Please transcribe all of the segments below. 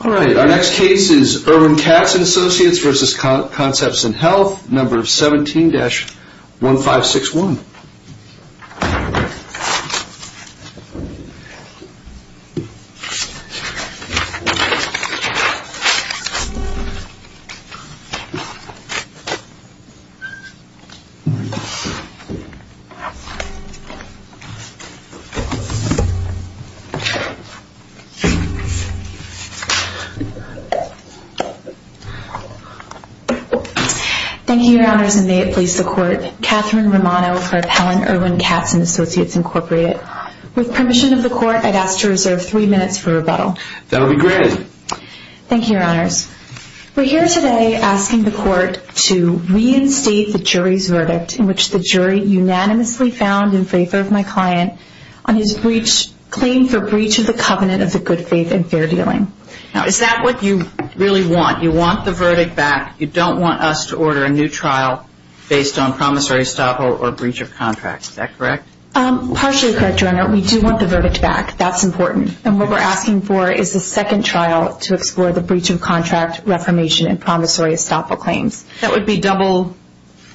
Our next case is Irwin Katz&Associates v. Conceptsin Health 17-1561 With permission of the court, I'd ask to reserve three minutes for rebuttal. That would be great. Thank you, Your Honors. We're here today asking the court to reinstate the jury's verdict in which the jury unanimously found in favor of my client on his claim for breach of the covenant of the good faith and fair dealing. Now, is that what you really want? You want the verdict back. You don't want us to order a new trial based on promissory estoppel or breach of contract. Is that correct? Partially correct, Your Honor. We do want the verdict back. That's important. And what we're asking for is a second trial to explore the breach of contract, reformation, and promissory estoppel claims. That would be double?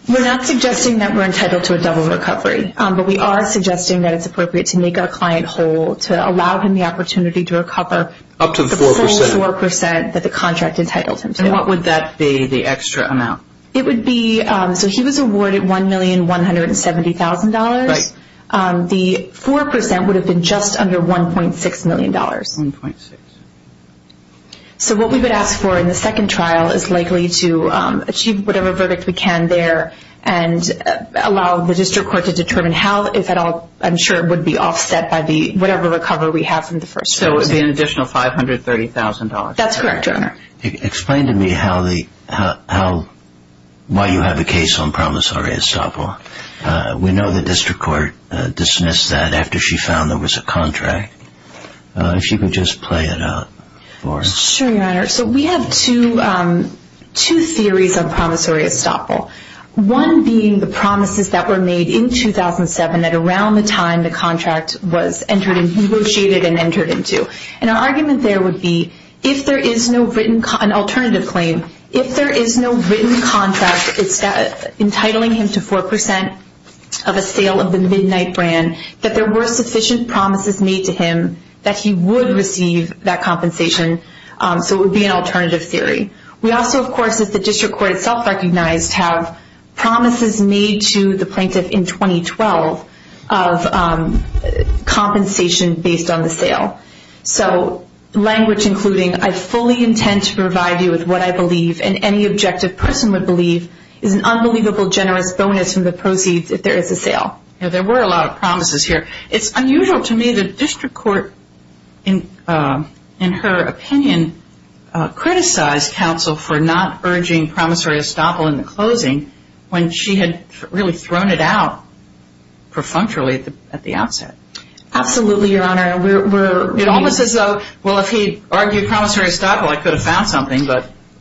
We're not suggesting that we're entitled to a double recovery, but we are suggesting that it's appropriate to make our client whole to allow him the opportunity to recover. Up to the 4%? The full 4% that the contract entitled him to. And what would that be, the extra amount? It would be, so he was awarded $1,170,000. Right. The 4% would have been just under $1.6 million. 1.6. So what we would ask for in the second trial is likely to achieve whatever verdict we can there and allow the district court to determine how, if at all, I'm sure it would be offset by whatever recovery we have from the first trial. So it would be an additional $530,000. That's correct, Your Honor. Explain to me why you have a case on promissory estoppel. We know the district court dismissed that after she found there was a contract. If she could just play it out for us. Sure, Your Honor. So we have two theories on promissory estoppel. One being the promises that were made in 2007 that around the time the contract was negotiated and entered into. And our argument there would be, if there is no written, an alternative claim, if there is no written contract entitling him to 4% of a sale of the Midnight brand, that there were sufficient promises made to him that he would receive that compensation. So it would be an alternative theory. We also, of course, as the district court itself recognized, have promises made to the plaintiff in 2012 of compensation based on the sale. So language including, I fully intend to provide you with what I believe and any objective person would believe is an unbelievable generous bonus from the proceeds if there is a sale. There were a lot of promises here. It's unusual to me that the district court, in her opinion, criticized counsel for not urging promissory estoppel in the closing when she had really thrown it out perfunctorily at the outset. Absolutely, Your Honor. It almost as though, well, if he argued promissory estoppel, I could have found something.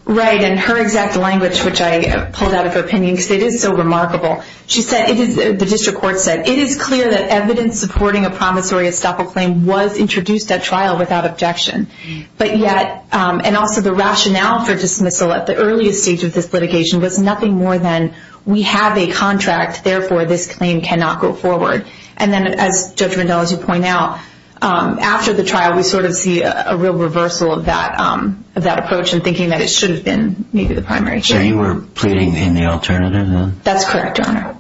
Right, and her exact language, which I pulled out of her opinion, because it is so remarkable. The district court said, it is clear that evidence supporting a promissory estoppel claim was introduced at trial without objection. But yet, and also the rationale for dismissal at the earliest stage of this litigation was nothing more than, we have a contract, therefore this claim cannot go forward. And then, as Judge Vandella pointed out, after the trial we sort of see a real reversal of that approach in thinking that it should have been maybe the primary. So you were pleading in the alternative then? That's correct, Your Honor.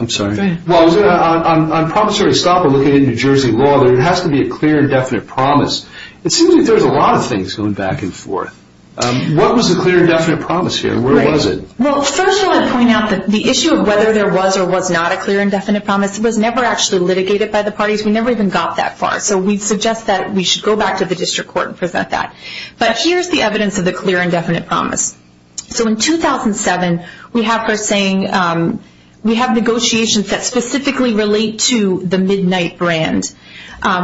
I'm sorry. Well, on promissory estoppel, looking at New Jersey law, there has to be a clear and definite promise. It seems like there's a lot of things going back and forth. What was the clear and definite promise here? Where was it? Well, first I want to point out that the issue of whether there was or was not a clear and definite promise was never actually litigated by the parties. We never even got that far. So we suggest that we should go back to the district court and present that. But here's the evidence of the clear and definite promise. So in 2007, we have her saying, we have negotiations that specifically relate to the midnight brand.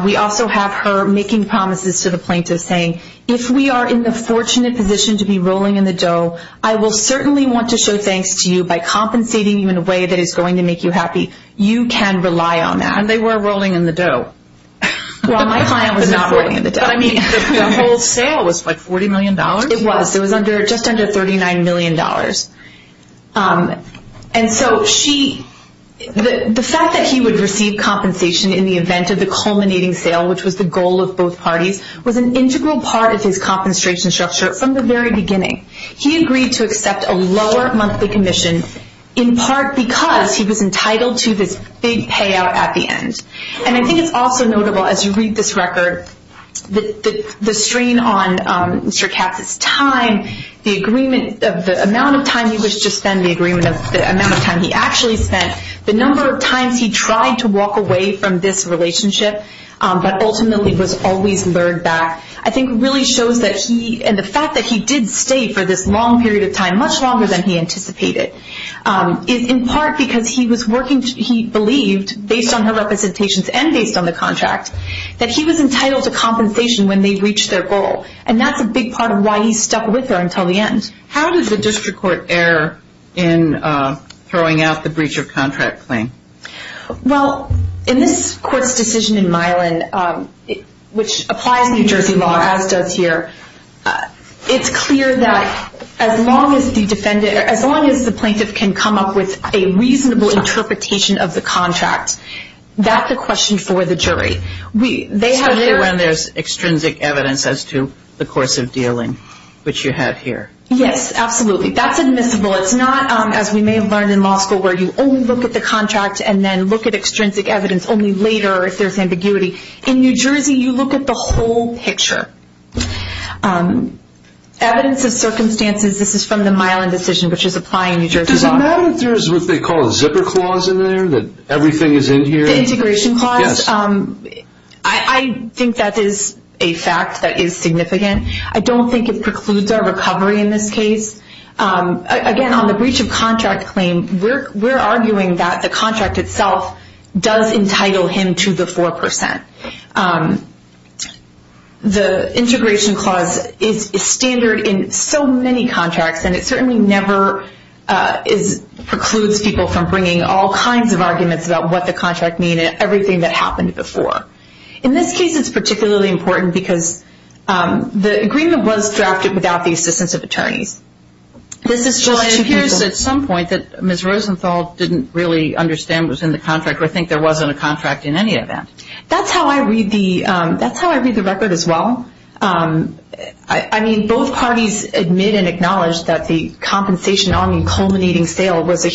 We also have her making promises to the plaintiff saying, if we are in the fortunate position to be rolling in the dough, I will certainly want to show thanks to you by compensating you in a way that is going to make you happy. You can rely on that. And they were rolling in the dough. Well, my client was not rolling in the dough. But, I mean, the whole sale was, like, $40 million? It was. It was just under $39 million. And so the fact that he would receive compensation in the event of the culminating sale, which was the goal of both parties, was an integral part of his compensation structure from the very beginning. He agreed to accept a lower monthly commission in part because he was entitled to this big payout at the end. And I think it's also notable, as you read this record, the strain on Mr. Katz's time, the amount of time he was to spend, the amount of time he actually spent, the number of times he tried to walk away from this relationship but ultimately was always lured back, I think really shows that he, and the fact that he did stay for this long period of time, much longer than he anticipated, is in part because he was working, he believed, based on her representations and based on the contract, that he was entitled to compensation when they reached their goal. And that's a big part of why he stuck with her until the end. How does the district court err in throwing out the breach of contract claim? Well, in this court's decision in Milan, which applies New Jersey law, as does here, it's clear that as long as the plaintiff can come up with a reasonable interpretation of the contract, that's a question for the jury. Especially when there's extrinsic evidence as to the course of dealing, which you have here. Yes, absolutely. That's admissible. It's not, as we may have learned in law school, where you only look at the contract and then look at extrinsic evidence only later if there's ambiguity. In New Jersey, you look at the whole picture. Evidence of circumstances, this is from the Milan decision, which is applying New Jersey law. Does it matter if there's what they call a zipper clause in there, that everything is in here? The integration clause? Yes. I think that is a fact that is significant. I don't think it precludes our recovery in this case. Again, on the breach of contract claim, we're arguing that the contract itself does entitle him to the 4%. The integration clause is standard in so many contracts, and it certainly never precludes people from bringing all kinds of arguments about what the contract means and everything that happened before. In this case, it's particularly important because the agreement was drafted without the assistance of attorneys. It appears at some point that Ms. Rosenthal didn't really understand what was in the contract or think there wasn't a contract in any event. That's how I read the record as well. Both parties admit and acknowledge that the compensation arm in culminating sale was an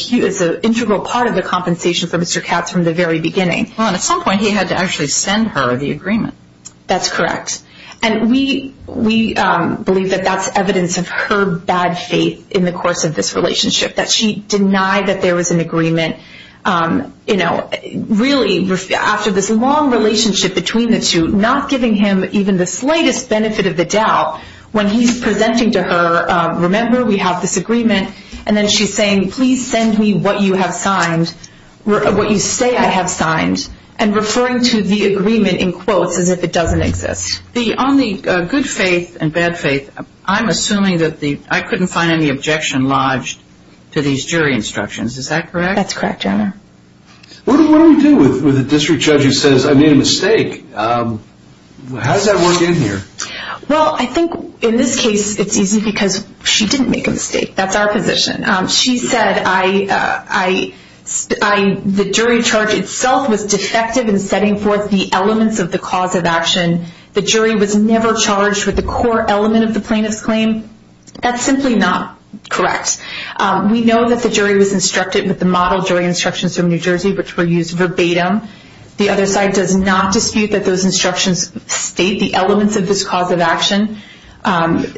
integral part of the compensation for Mr. Katz from the very beginning. At some point, he had to actually send her the agreement. That's correct. We believe that that's evidence of her bad faith in the course of this relationship, that she denied that there was an agreement. Really, after this long relationship between the two, not giving him even the slightest benefit of the doubt, when he's presenting to her, remember, we have this agreement, and then she's saying, please send me what you say I have signed and referring to the agreement in quotes as if it doesn't exist. On the good faith and bad faith, I'm assuming that I couldn't find any objection lodged to these jury instructions. Is that correct? That's correct, Your Honor. What do we do with a district judge who says, I made a mistake? How does that work in here? Well, I think in this case, it's easy because she didn't make a mistake. That's our position. She said, the jury charge itself was defective in setting forth the elements of the cause of action. The jury was never charged with the core element of the plaintiff's claim. That's simply not correct. We know that the jury was instructed with the model jury instructions from New Jersey, which were used verbatim. The other side does not dispute that those instructions state the elements of this cause of action. In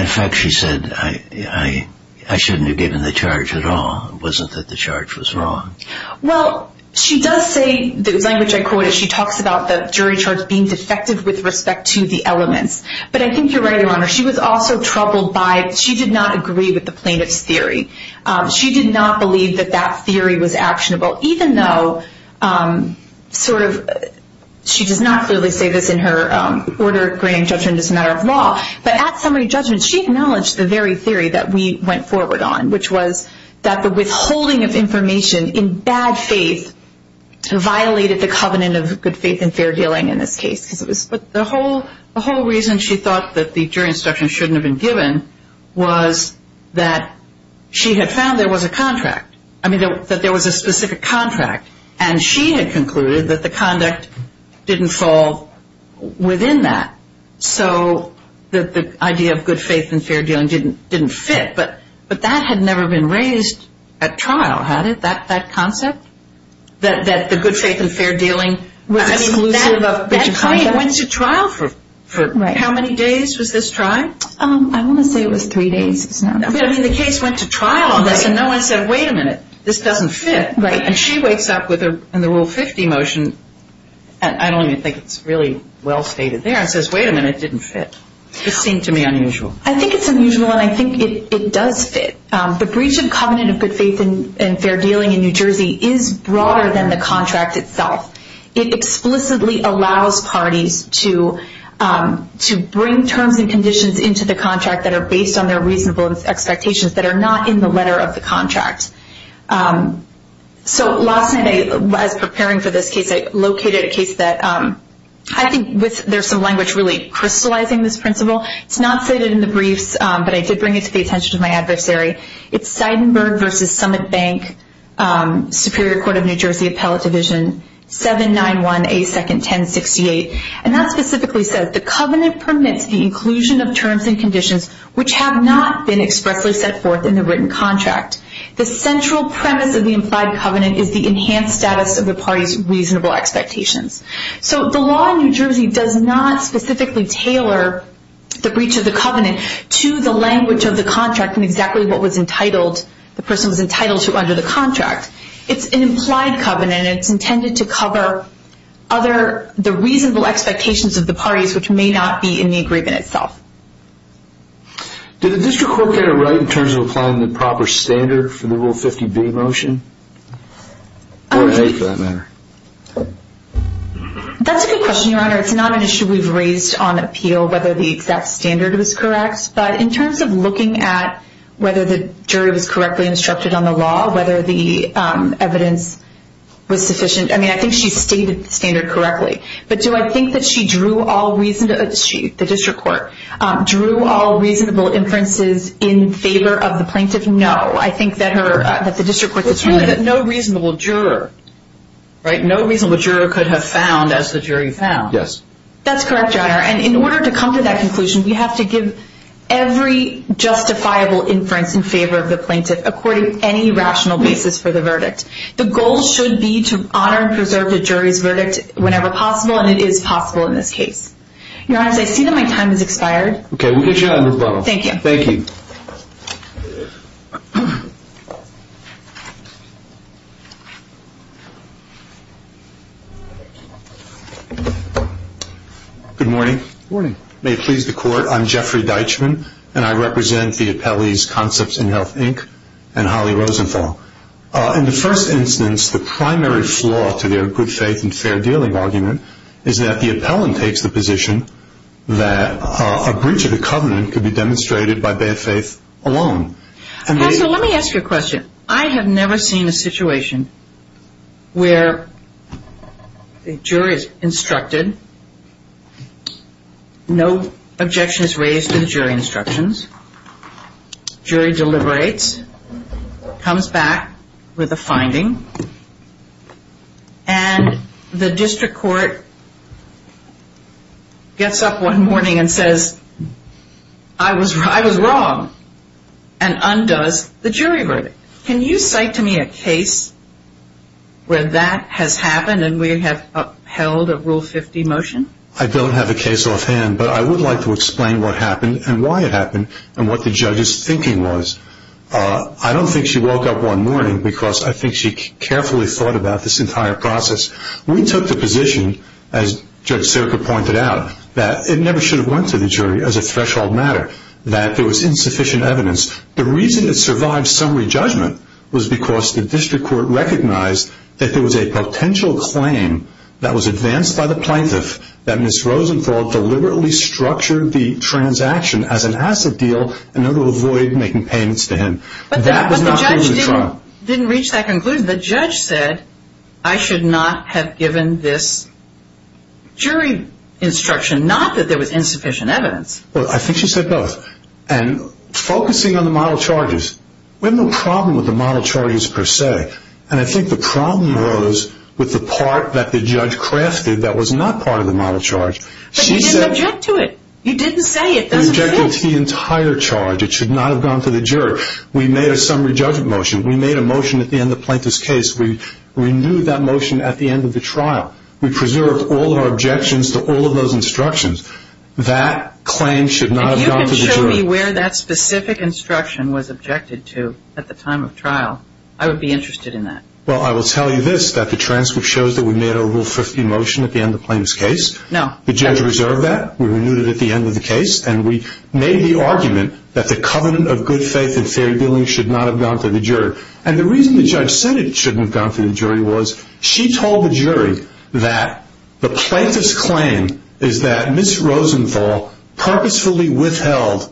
effect, she said, I shouldn't have given the charge at all. It wasn't that the charge was wrong. Well, she does say, the language I quoted, she talks about the jury charge being defective with respect to the elements. But I think you're right, Your Honor. She was also troubled by, she did not agree with the plaintiff's theory. She did not believe that that theory was actionable, even though she does not clearly say this in her order of granting judgment as a matter of law. But at summary judgment, she acknowledged the very theory that we went forward on, which was that the withholding of information in bad faith violated the covenant of good faith and fair dealing in this case. But the whole reason she thought that the jury instructions shouldn't have been given was that she had found there was a contract. I mean, that there was a specific contract. And she had concluded that the conduct didn't fall within that, so that the idea of good faith and fair dealing didn't fit. But that had never been raised at trial, had it, that concept? That the good faith and fair dealing was exclusive of good faith and fair dealing? That claim went to trial for how many days was this trial? I want to say it was three days. I mean, the case went to trial on this, and no one said, wait a minute, this doesn't fit. And she wakes up in the Rule 50 motion, and I don't even think it's really well stated there, and says, wait a minute, it didn't fit. This seemed to me unusual. I think it's unusual, and I think it does fit. The breach of covenant of good faith and fair dealing in New Jersey is broader than the contract itself. It explicitly allows parties to bring terms and conditions into the contract that are based on their reasonable expectations that are not in the letter of the contract. So last night, as preparing for this case, I located a case that I think there's some language really crystallizing this principle. It's not stated in the briefs, but I did bring it to the attention of my adversary. It's Seidenberg v. Summit Bank, Superior Court of New Jersey Appellate Division, 791A2-1068. And that specifically says, the covenant permits the inclusion of terms and conditions which have not been expressly set forth in the written contract. The central premise of the implied covenant is the enhanced status of the party's reasonable expectations. So the law in New Jersey does not specifically tailor the breach of the covenant to the language of the contract and exactly what the person was entitled to under the contract. It's an implied covenant, and it's intended to cover the reasonable expectations of the parties which may not be in the agreement itself. Did the district court get it right in terms of applying the proper standard for the Rule 50B motion? Or A for that matter? That's a good question, Your Honor. It's not an issue we've raised on appeal, whether the exact standard was correct. But in terms of looking at whether the jury was correctly instructed on the law, whether the evidence was sufficient. I mean, I think she stated the standard correctly. But do I think that she drew all reasonable, the district court, drew all reasonable inferences in favor of the plaintiff? No, I think that her, that the district court, It's really that no reasonable juror, right? No reasonable juror could have found as the jury found. Yes. That's correct, Your Honor. And in order to come to that conclusion, we have to give every justifiable inference in favor of the plaintiff, according to any rational basis for the verdict. The goal should be to honor and preserve the jury's verdict whenever possible, and it is possible in this case. Your Honor, I see that my time has expired. Okay, we'll get you out of the room. Thank you. Thank you. Good morning. Good morning. May it please the Court, I'm Jeffrey Deitchman, and I represent the appellees, Concepts in Health, Inc., and Holly Rosenthal. In the first instance, the primary flaw to their good faith and fair dealing argument is that the appellant takes the position that a breach of the covenant could be demonstrated by bad faith alone. Counsel, let me ask you a question. I have never seen a situation where a jury is instructed, no objection is raised to the jury instructions, jury deliberates, comes back with a finding, and the district court gets up one morning and says, I was wrong, and undoes the jury verdict. Can you cite to me a case where that has happened and we have upheld a Rule 50 motion? I don't have a case offhand, but I would like to explain what happened and why it happened and what the judge's thinking was. I don't think she woke up one morning because I think she carefully thought about this entire process. We took the position, as Judge Serka pointed out, that it never should have went to the jury as a threshold matter, that there was insufficient evidence. The reason it survived summary judgment was because the district court recognized that there was a potential claim that was advanced by the plaintiff that Ms. Rosenthal deliberately structured the transaction as an asset deal in order to avoid making payments to him. But the judge didn't reach that conclusion. The judge said, I should not have given this jury instruction, not that there was insufficient evidence. Well, I think she said both. And focusing on the model charges, we have no problem with the model charges per se, and I think the problem arose with the part that the judge crafted that was not part of the model charge. But you didn't object to it. You didn't say it doesn't exist. We built the entire charge. It should not have gone to the jury. We made a summary judgment motion. We made a motion at the end of the plaintiff's case. We renewed that motion at the end of the trial. We preserved all of our objections to all of those instructions. That claim should not have gone to the jury. And you can show me where that specific instruction was objected to at the time of trial. I would be interested in that. Well, I will tell you this, that the transcript shows that we made a Rule 50 motion at the end of the plaintiff's case. No. The judge reserved that. We renewed it at the end of the case, and we made the argument that the covenant of good faith and fair dealing should not have gone to the jury. And the reason the judge said it shouldn't have gone to the jury was she told the jury that the plaintiff's claim is that Ms. Rosenthal purposefully withheld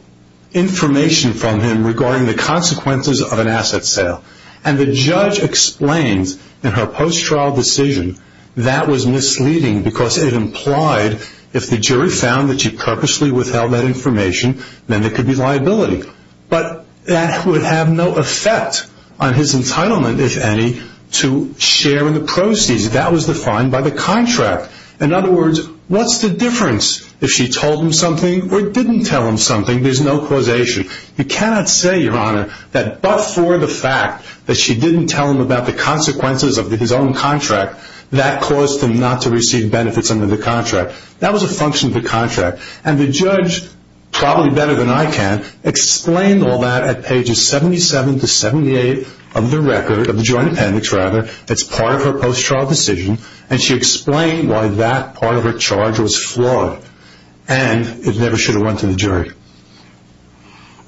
information from him regarding the consequences of an asset sale. And the judge explained in her post-trial decision that was misleading because it implied if the jury found that she purposely withheld that information, then there could be liability. But that would have no effect on his entitlement, if any, to share in the proceeds. That was defined by the contract. In other words, what's the difference if she told him something or didn't tell him something? There's no causation. You cannot say, Your Honor, that but for the fact that she didn't tell him about the consequences of his own contract, that caused him not to receive benefits under the contract. That was a function of the contract. And the judge, probably better than I can, explained all that at pages 77 to 78 of the record, of the joint appendix rather, that's part of her post-trial decision, and she explained why that part of her charge was flawed, and it never should have went to the jury.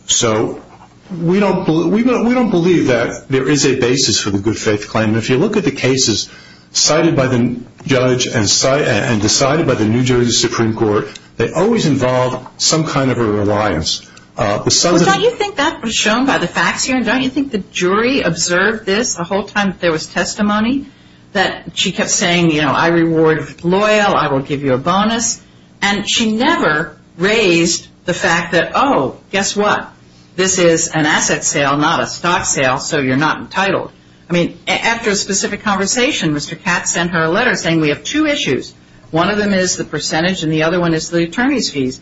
So we don't believe that there is a basis for the good faith claim. And if you look at the cases cited by the judge and decided by the New Jersey Supreme Court, they always involve some kind of a reliance. Don't you think that was shown by the facts here? Don't you think the jury observed this the whole time there was testimony, that she kept saying, You know, I reward if you're loyal, I will give you a bonus. And she never raised the fact that, Oh, guess what? This is an asset sale, not a stock sale, so you're not entitled. I mean, after a specific conversation, Mr. Katz sent her a letter saying, We have two issues. One of them is the percentage, and the other one is the attorney's fees.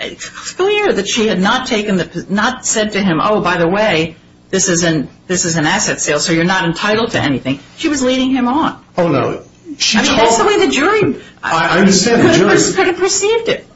It's clear that she had not said to him, Oh, by the way, this is an asset sale, so you're not entitled to anything. She was leading him on. Oh, no. I mean, that's the way the jury could have perceived it.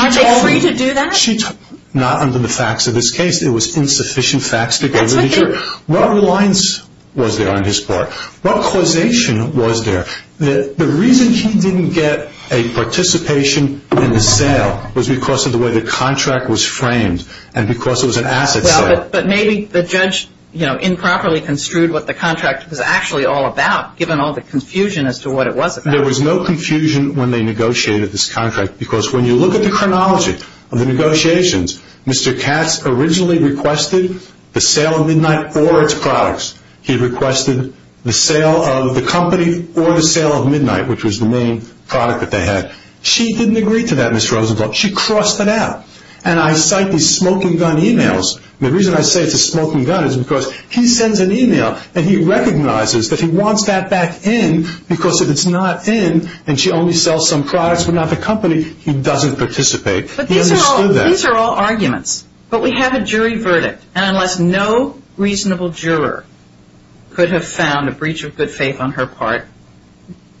Aren't they free to do that? Not under the facts of this case. It was insufficient facts to go to the jury. What reliance was there on his part? What causation was there? The reason he didn't get a participation in the sale was because of the way the contract was framed and because it was an asset sale. Well, but maybe the judge, you know, improperly construed what the contract was actually all about, given all the confusion as to what it was about. There was no confusion when they negotiated this contract, because when you look at the chronology of the negotiations, Mr. Katz originally requested the sale of Midnight or its products. He requested the sale of the company or the sale of Midnight, which was the main product that they had. She didn't agree to that, Ms. Rosenblum. She crossed it out. And I cite these smoking gun emails. The reason I say it's a smoking gun is because he sends an email and he recognizes that he wants that back in, because if it's not in and she only sells some products but not the company, he doesn't participate. He understood that. But these are all arguments. But we have a jury verdict. And unless no reasonable juror could have found a breach of good faith on her part,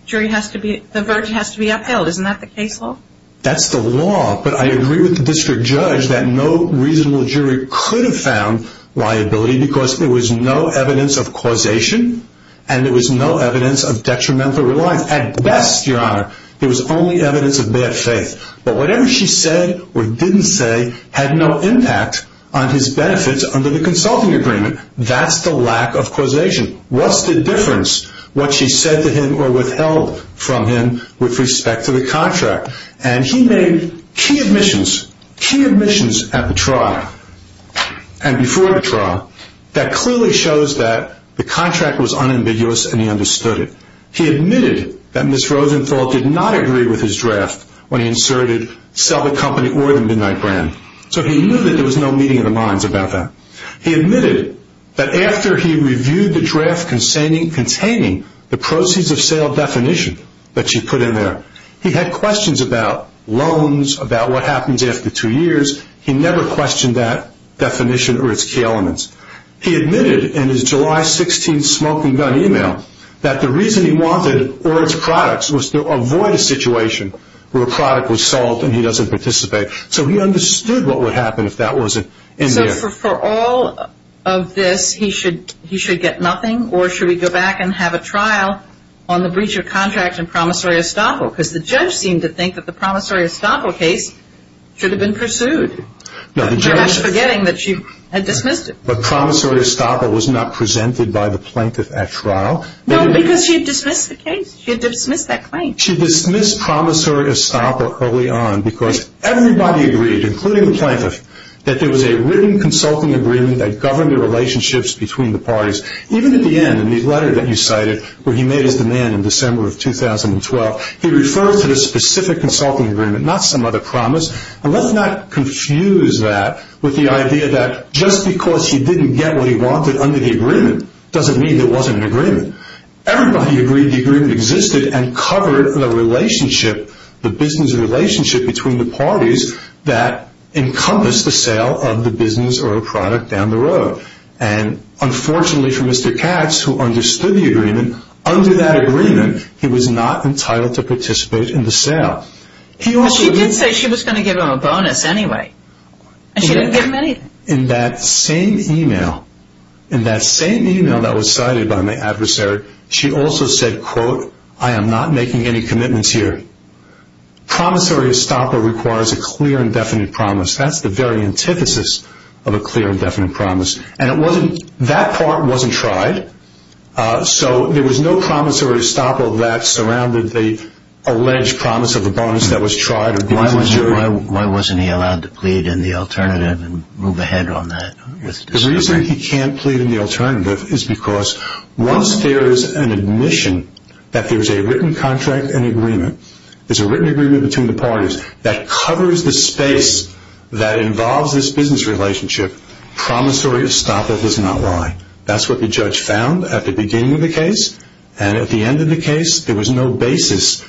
the verdict has to be upheld. Isn't that the case law? That's the law. But I agree with the district judge that no reasonable jury could have found liability because there was no evidence of causation and there was no evidence of detrimental reliance. At best, Your Honor, there was only evidence of bad faith. But whatever she said or didn't say had no impact on his benefits under the consulting agreement. That's the lack of causation. What's the difference what she said to him or withheld from him with respect to the contract? And he made key admissions, key admissions at the trial and before the trial that clearly shows that the contract was unambiguous and he understood it. He admitted that Ms. Rosenthal did not agree with his draft when he inserted sell the company or the Midnight Brand. So he knew that there was no meeting of the minds about that. He admitted that after he reviewed the draft containing the proceeds of sale definition that she put in there, he had questions about loans, about what happens after two years. He never questioned that definition or its key elements. He admitted in his July 16th smoke and gun email that the reason he wanted or its products was to avoid a situation where a product was sold and he doesn't participate. So he understood what would happen if that wasn't in there. So for all of this, he should get nothing or should we go back and have a trial on the breach of contract and promissory estoppel? Because the judge seemed to think that the promissory estoppel case should have been pursued. He was forgetting that she had dismissed it. But promissory estoppel was not presented by the plaintiff at trial. No, because she had dismissed the case. She had dismissed that claim. She dismissed promissory estoppel early on because everybody agreed, including the plaintiff, that there was a written consulting agreement that governed the relationships between the parties. Even at the end, in the letter that you cited where he made his demand in December of 2012, he referred to the specific consulting agreement, not some other promise. And let's not confuse that with the idea that just because he didn't get what he wanted under the agreement doesn't mean there wasn't an agreement. Everybody agreed the agreement existed and covered the relationship, the business relationship between the parties that encompassed the sale of the business or a product down the road. And unfortunately for Mr. Katz, who understood the agreement, under that agreement he was not entitled to participate in the sale. But she did say she was going to give him a bonus anyway. And she didn't give him anything. In that same email, in that same email that was cited by my adversary, she also said, quote, I am not making any commitments here. Promissory estoppel requires a clear and definite promise. That's the very antithesis of a clear and definite promise. And that part wasn't tried. So there was no promissory estoppel that surrounded the alleged promise of a bonus that was tried. Why wasn't he allowed to plead in the alternative and move ahead on that? The reason he can't plead in the alternative is because once there is an admission that there is a written contract, an agreement, there's a written agreement between the parties that covers the space that involves this business relationship, promissory estoppel is not why. That's what the judge found at the beginning of the case, and at the end of the case there was no basis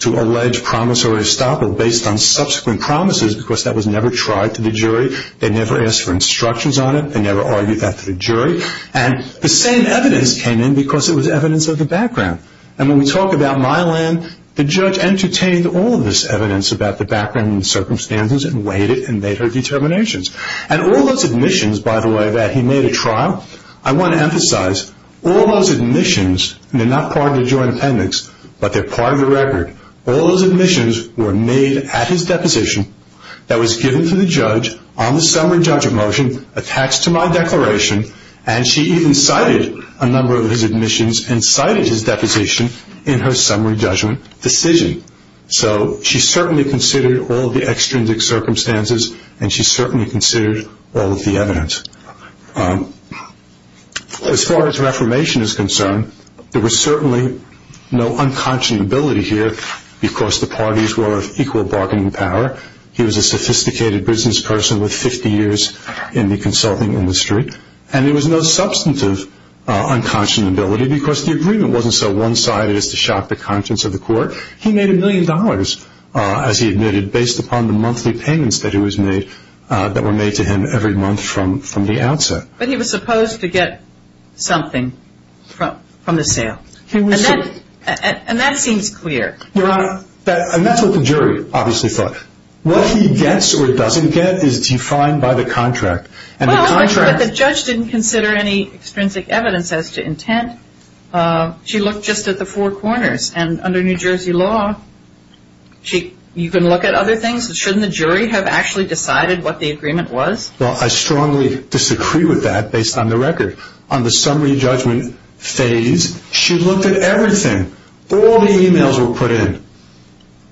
to allege promissory estoppel based on subsequent promises because that was never tried to the jury. They never asked for instructions on it. They never argued that to the jury. And the same evidence came in because it was evidence of the background. And when we talk about Mylan, the judge entertained all of this evidence about the background and the circumstances and weighed it and made her determinations. And all those admissions, by the way, that he made a trial, I want to emphasize all those admissions, and they're not part of the joint appendix, but they're part of the record, all those admissions were made at his deposition that was given to the judge on the summary judgment motion attached to my declaration, and she even cited a number of his admissions and cited his deposition in her summary judgment decision. So she certainly considered all of the extrinsic circumstances, and she certainly considered all of the evidence. As far as reformation is concerned, there was certainly no unconscionability here because the parties were of equal bargaining power. He was a sophisticated business person with 50 years in the consulting industry, and there was no substantive unconscionability because the agreement wasn't so one-sided as to shock the conscience of the court. He made a million dollars, as he admitted, based upon the monthly payments that he was made that were made to him every month from the outset. But he was supposed to get something from the sale, and that seems clear. Your Honor, and that's what the jury obviously thought. What he gets or doesn't get is defined by the contract. Well, but the judge didn't consider any extrinsic evidence as to intent. She looked just at the four corners, and under New Jersey law, you can look at other things. Shouldn't the jury have actually decided what the agreement was? Well, I strongly disagree with that based on the record. On the summary judgment phase, she looked at everything. All the e-mails were put in.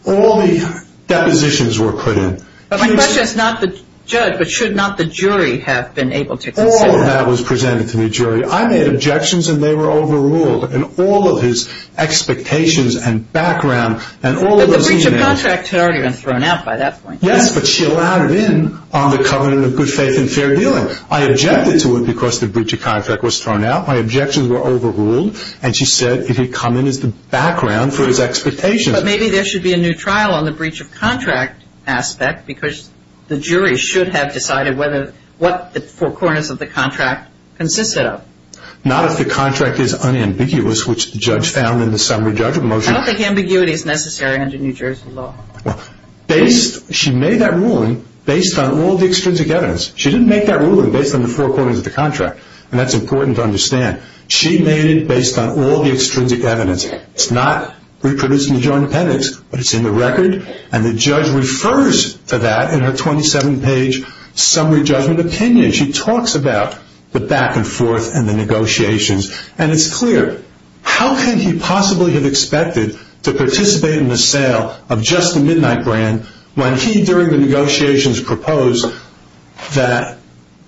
All the depositions were put in. My question is not the judge, but should not the jury have been able to consider that? All of that was presented to me, jury. I made objections, and they were overruled. And all of his expectations and background and all of those e-mails. But the breach of contract had already been thrown out by that point. Yes, but she allowed it in on the covenant of good faith and fair dealing. I objected to it because the breach of contract was thrown out. My objections were overruled, and she said it had come in as the background for his expectations. But maybe there should be a new trial on the breach of contract aspect because the jury should have decided what the four corners of the contract consisted of. Not if the contract is unambiguous, which the judge found in the summary judgment motion. I don't think ambiguity is necessary under New Jersey law. She made that ruling based on all the extrinsic evidence. She didn't make that ruling based on the four corners of the contract, and that's important to understand. She made it based on all the extrinsic evidence. It's not reproducing the joint appendix, but it's in the record, and the judge refers to that in her 27-page summary judgment opinion. She talks about the back and forth and the negotiations, and it's clear. How can he possibly have expected to participate in the sale of just the Midnight brand when he, during the negotiations, proposed that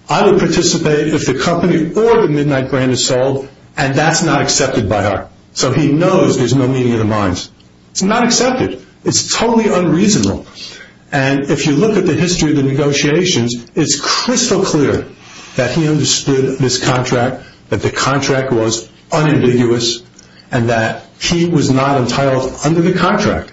I would participate if the company or the Midnight brand is sold, and that's not accepted by her. So he knows there's no meeting of the minds. It's not accepted. It's totally unreasonable, and if you look at the history of the negotiations, it's crystal clear that he understood this contract, that the contract was unambiguous, and that he was not entitled under the contract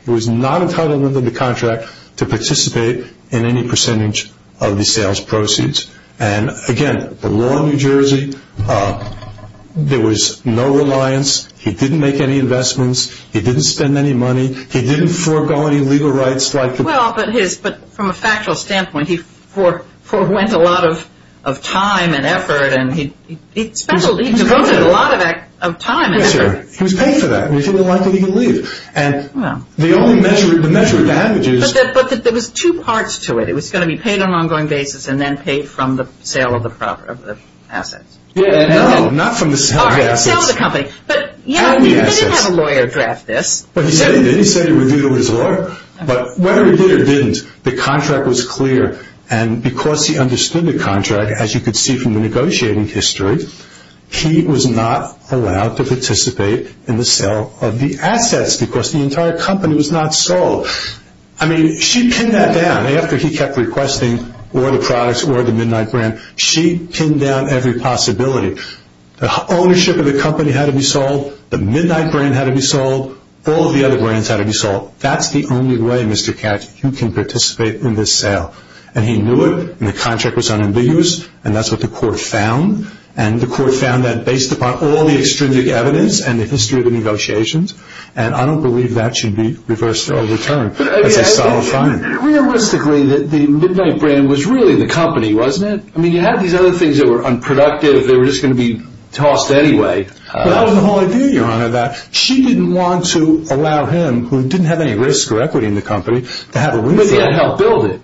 to participate in any percentage of the sales proceeds. Again, the law of New Jersey, there was no reliance. He didn't make any investments. He didn't spend any money. He didn't forego any legal rights. Well, but from a factual standpoint, he forwent a lot of time and effort, and he devoted a lot of time and effort. Yes, sir. He was paid for that. He didn't like the legal leave. Well. The only measure, the measure of damages. But there was two parts to it. It was going to be paid on an ongoing basis and then paid from the sale of the assets. No, not from the sale of the assets. All right, the sale of the company. But, yeah, he did have a lawyer draft this. Well, he said he did. He said he reviewed it with his lawyer. But whether he did or didn't, the contract was clear, and because he understood the contract, as you could see from the negotiating history, he was not allowed to participate in the sale of the assets because the entire company was not sold. I mean, she pinned that down. After he kept requesting all the products, all the midnight brand, she pinned down every possibility. The ownership of the company had to be sold. The midnight brand had to be sold. All of the other brands had to be sold. That's the only way, Mr. Katz, you can participate in this sale. And he knew it, and the contract was unambiguous, and that's what the court found. And the court found that based upon all the extrinsic evidence and the history of the negotiations, and I don't believe that should be reversed or overturned. It's a solid finding. Realistically, the midnight brand was really the company, wasn't it? I mean, you had these other things that were unproductive. They were just going to be tossed anyway. That was the whole idea, Your Honor, that she didn't want to allow him, who didn't have any risk or equity in the company, to have a waiver. But he had helped build it.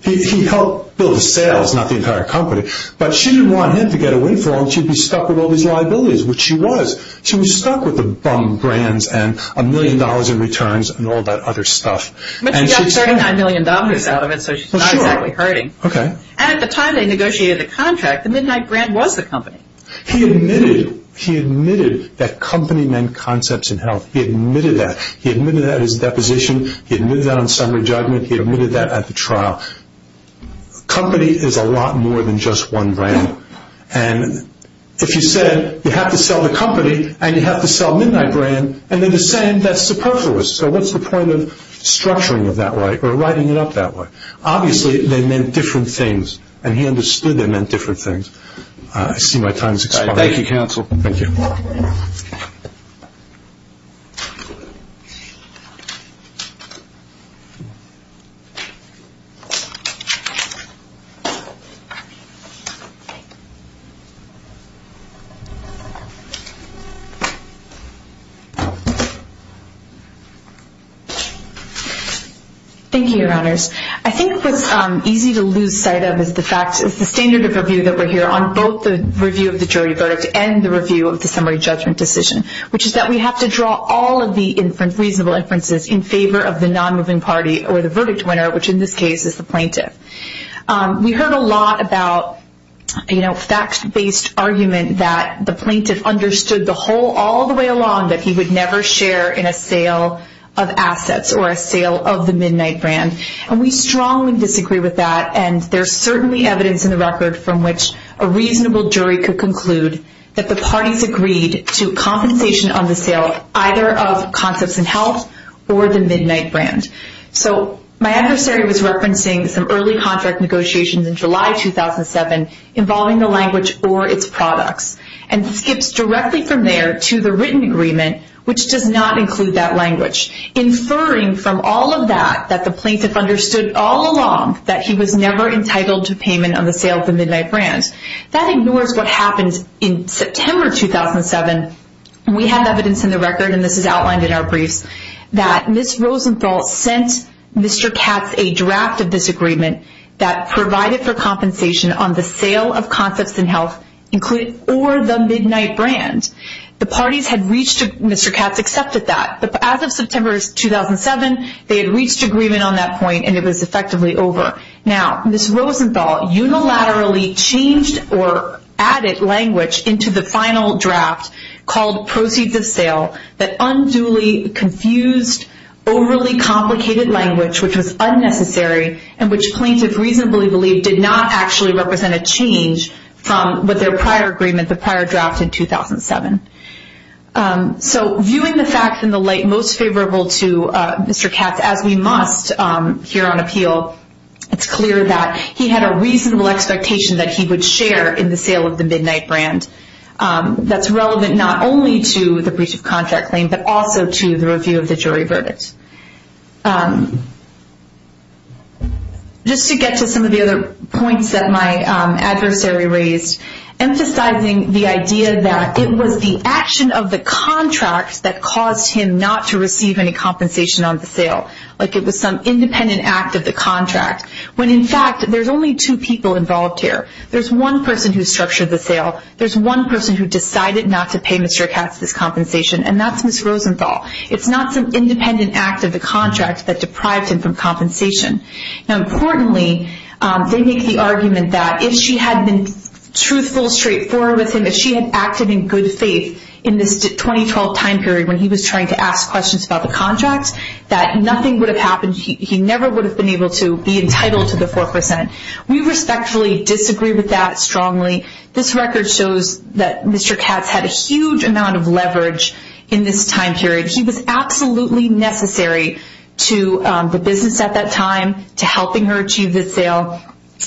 He helped build the sales, not the entire company. But she didn't want him to get a waiver, and she'd be stuck with all these liabilities, which she was. She was stuck with the bum brands and a million dollars in returns and all that other stuff. But she got $39 million out of it, so she's not exactly hurting. Okay. And at the time they negotiated the contract, the midnight brand was the company. He admitted that company meant concepts and health. He admitted that. He admitted that at his deposition. He admitted that on summary judgment. He admitted that at the trial. Company is a lot more than just one brand. And if you said you have to sell the company and you have to sell midnight brand, and then the same, that's superfluous. So what's the point of structuring it that way or writing it up that way? Obviously they meant different things, and he understood they meant different things. I see my time has expired. Thank you. Thank you, Your Honors. I think what's easy to lose sight of is the standard of review that we're here on, both the review of the jury verdict and the review of the summary judgment decision, which is that we have to draw all of the reasonable inferences in favor of the non-moving party or the verdict winner, which in this case is the plaintiff. We heard a lot about, you know, fact-based argument that the plaintiff understood the whole, all the way along, that he would never share in a sale of assets or a sale of the midnight brand. And we strongly disagree with that, and there's certainly evidence in the record from which a reasonable jury could conclude that the parties agreed to compensation on the sale either of concepts and health or the midnight brand. So my adversary was referencing some early contract negotiations in July 2007 involving the language or its products, and skips directly from there to the written agreement, which does not include that language, inferring from all of that that the plaintiff understood all along that he was never entitled to payment on the sale of the midnight brand. That ignores what happened in September 2007. We have evidence in the record, and this is outlined in our briefs, that Ms. Rosenthal sent Mr. Katz a draft of this agreement that provided for compensation on the sale of concepts and health, including, or the midnight brand. The parties had reached, Mr. Katz accepted that. As of September 2007, they had reached agreement on that point, and it was effectively over. Now, Ms. Rosenthal unilaterally changed or added language into the final draft called Proceeds of Sale that unduly confused overly complicated language, which was unnecessary, and which plaintiffs reasonably believed did not actually represent a change from what their prior agreement, the prior draft in 2007. So, viewing the facts in the light most favorable to Mr. Katz, as we must here on appeal, it's clear that he had a reasonable expectation that he would share in the sale of the midnight brand that's relevant not only to the breach of contract claim, but also to the review of the jury verdict. Just to get to some of the other points that my adversary raised, emphasizing the idea that it was the action of the contract that caused him not to receive any compensation on the sale, like it was some independent act of the contract, when, in fact, there's only two people involved here. There's one person who structured the sale. There's one person who decided not to pay Mr. Katz this compensation, and that's Ms. Rosenthal. It's not some independent act of the contract that deprived him from compensation. Now, importantly, they make the argument that if she had been truthful, straightforward with him, if she had acted in good faith in this 2012 time period when he was trying to ask questions about the contract, that nothing would have happened. He never would have been able to be entitled to the 4%. We respectfully disagree with that strongly. This record shows that Mr. Katz had a huge amount of leverage in this time period. He was absolutely necessary to the business at that time, to helping her achieve this sale.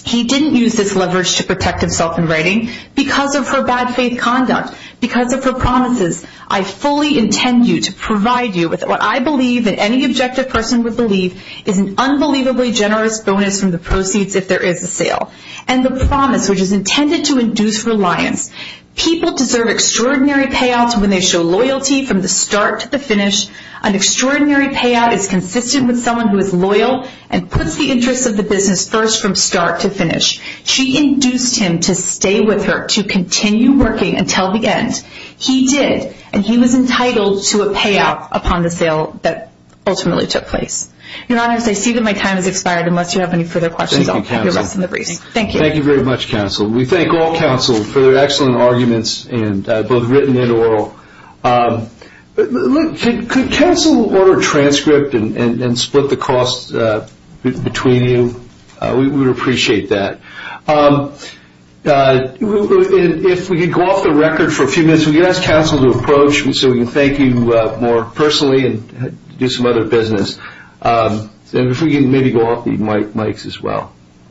He didn't use this leverage to protect himself in writing because of her bad faith conduct, because of her promises, I fully intend you to provide you with what I believe and any objective person would believe is an unbelievably generous bonus from the proceeds if there is a sale, and the promise which is intended to induce reliance. People deserve extraordinary payouts when they show loyalty from the start to the finish. An extraordinary payout is consistent with someone who is loyal and puts the interests of the business first from start to finish. She induced him to stay with her, to continue working until the end. He did, and he was entitled to a payout upon the sale that ultimately took place. Your Honor, I see that my time has expired, unless you have any further questions. Thank you. Thank you very much, Counsel. We thank all Counsel for their excellent arguments, both written and oral. Could Counsel order a transcript and split the costs between you? We would appreciate that. If we could go off the record for a few minutes, we ask Counsel to approach me so we can thank you more personally and do some other business. If we could maybe go off the mics as well.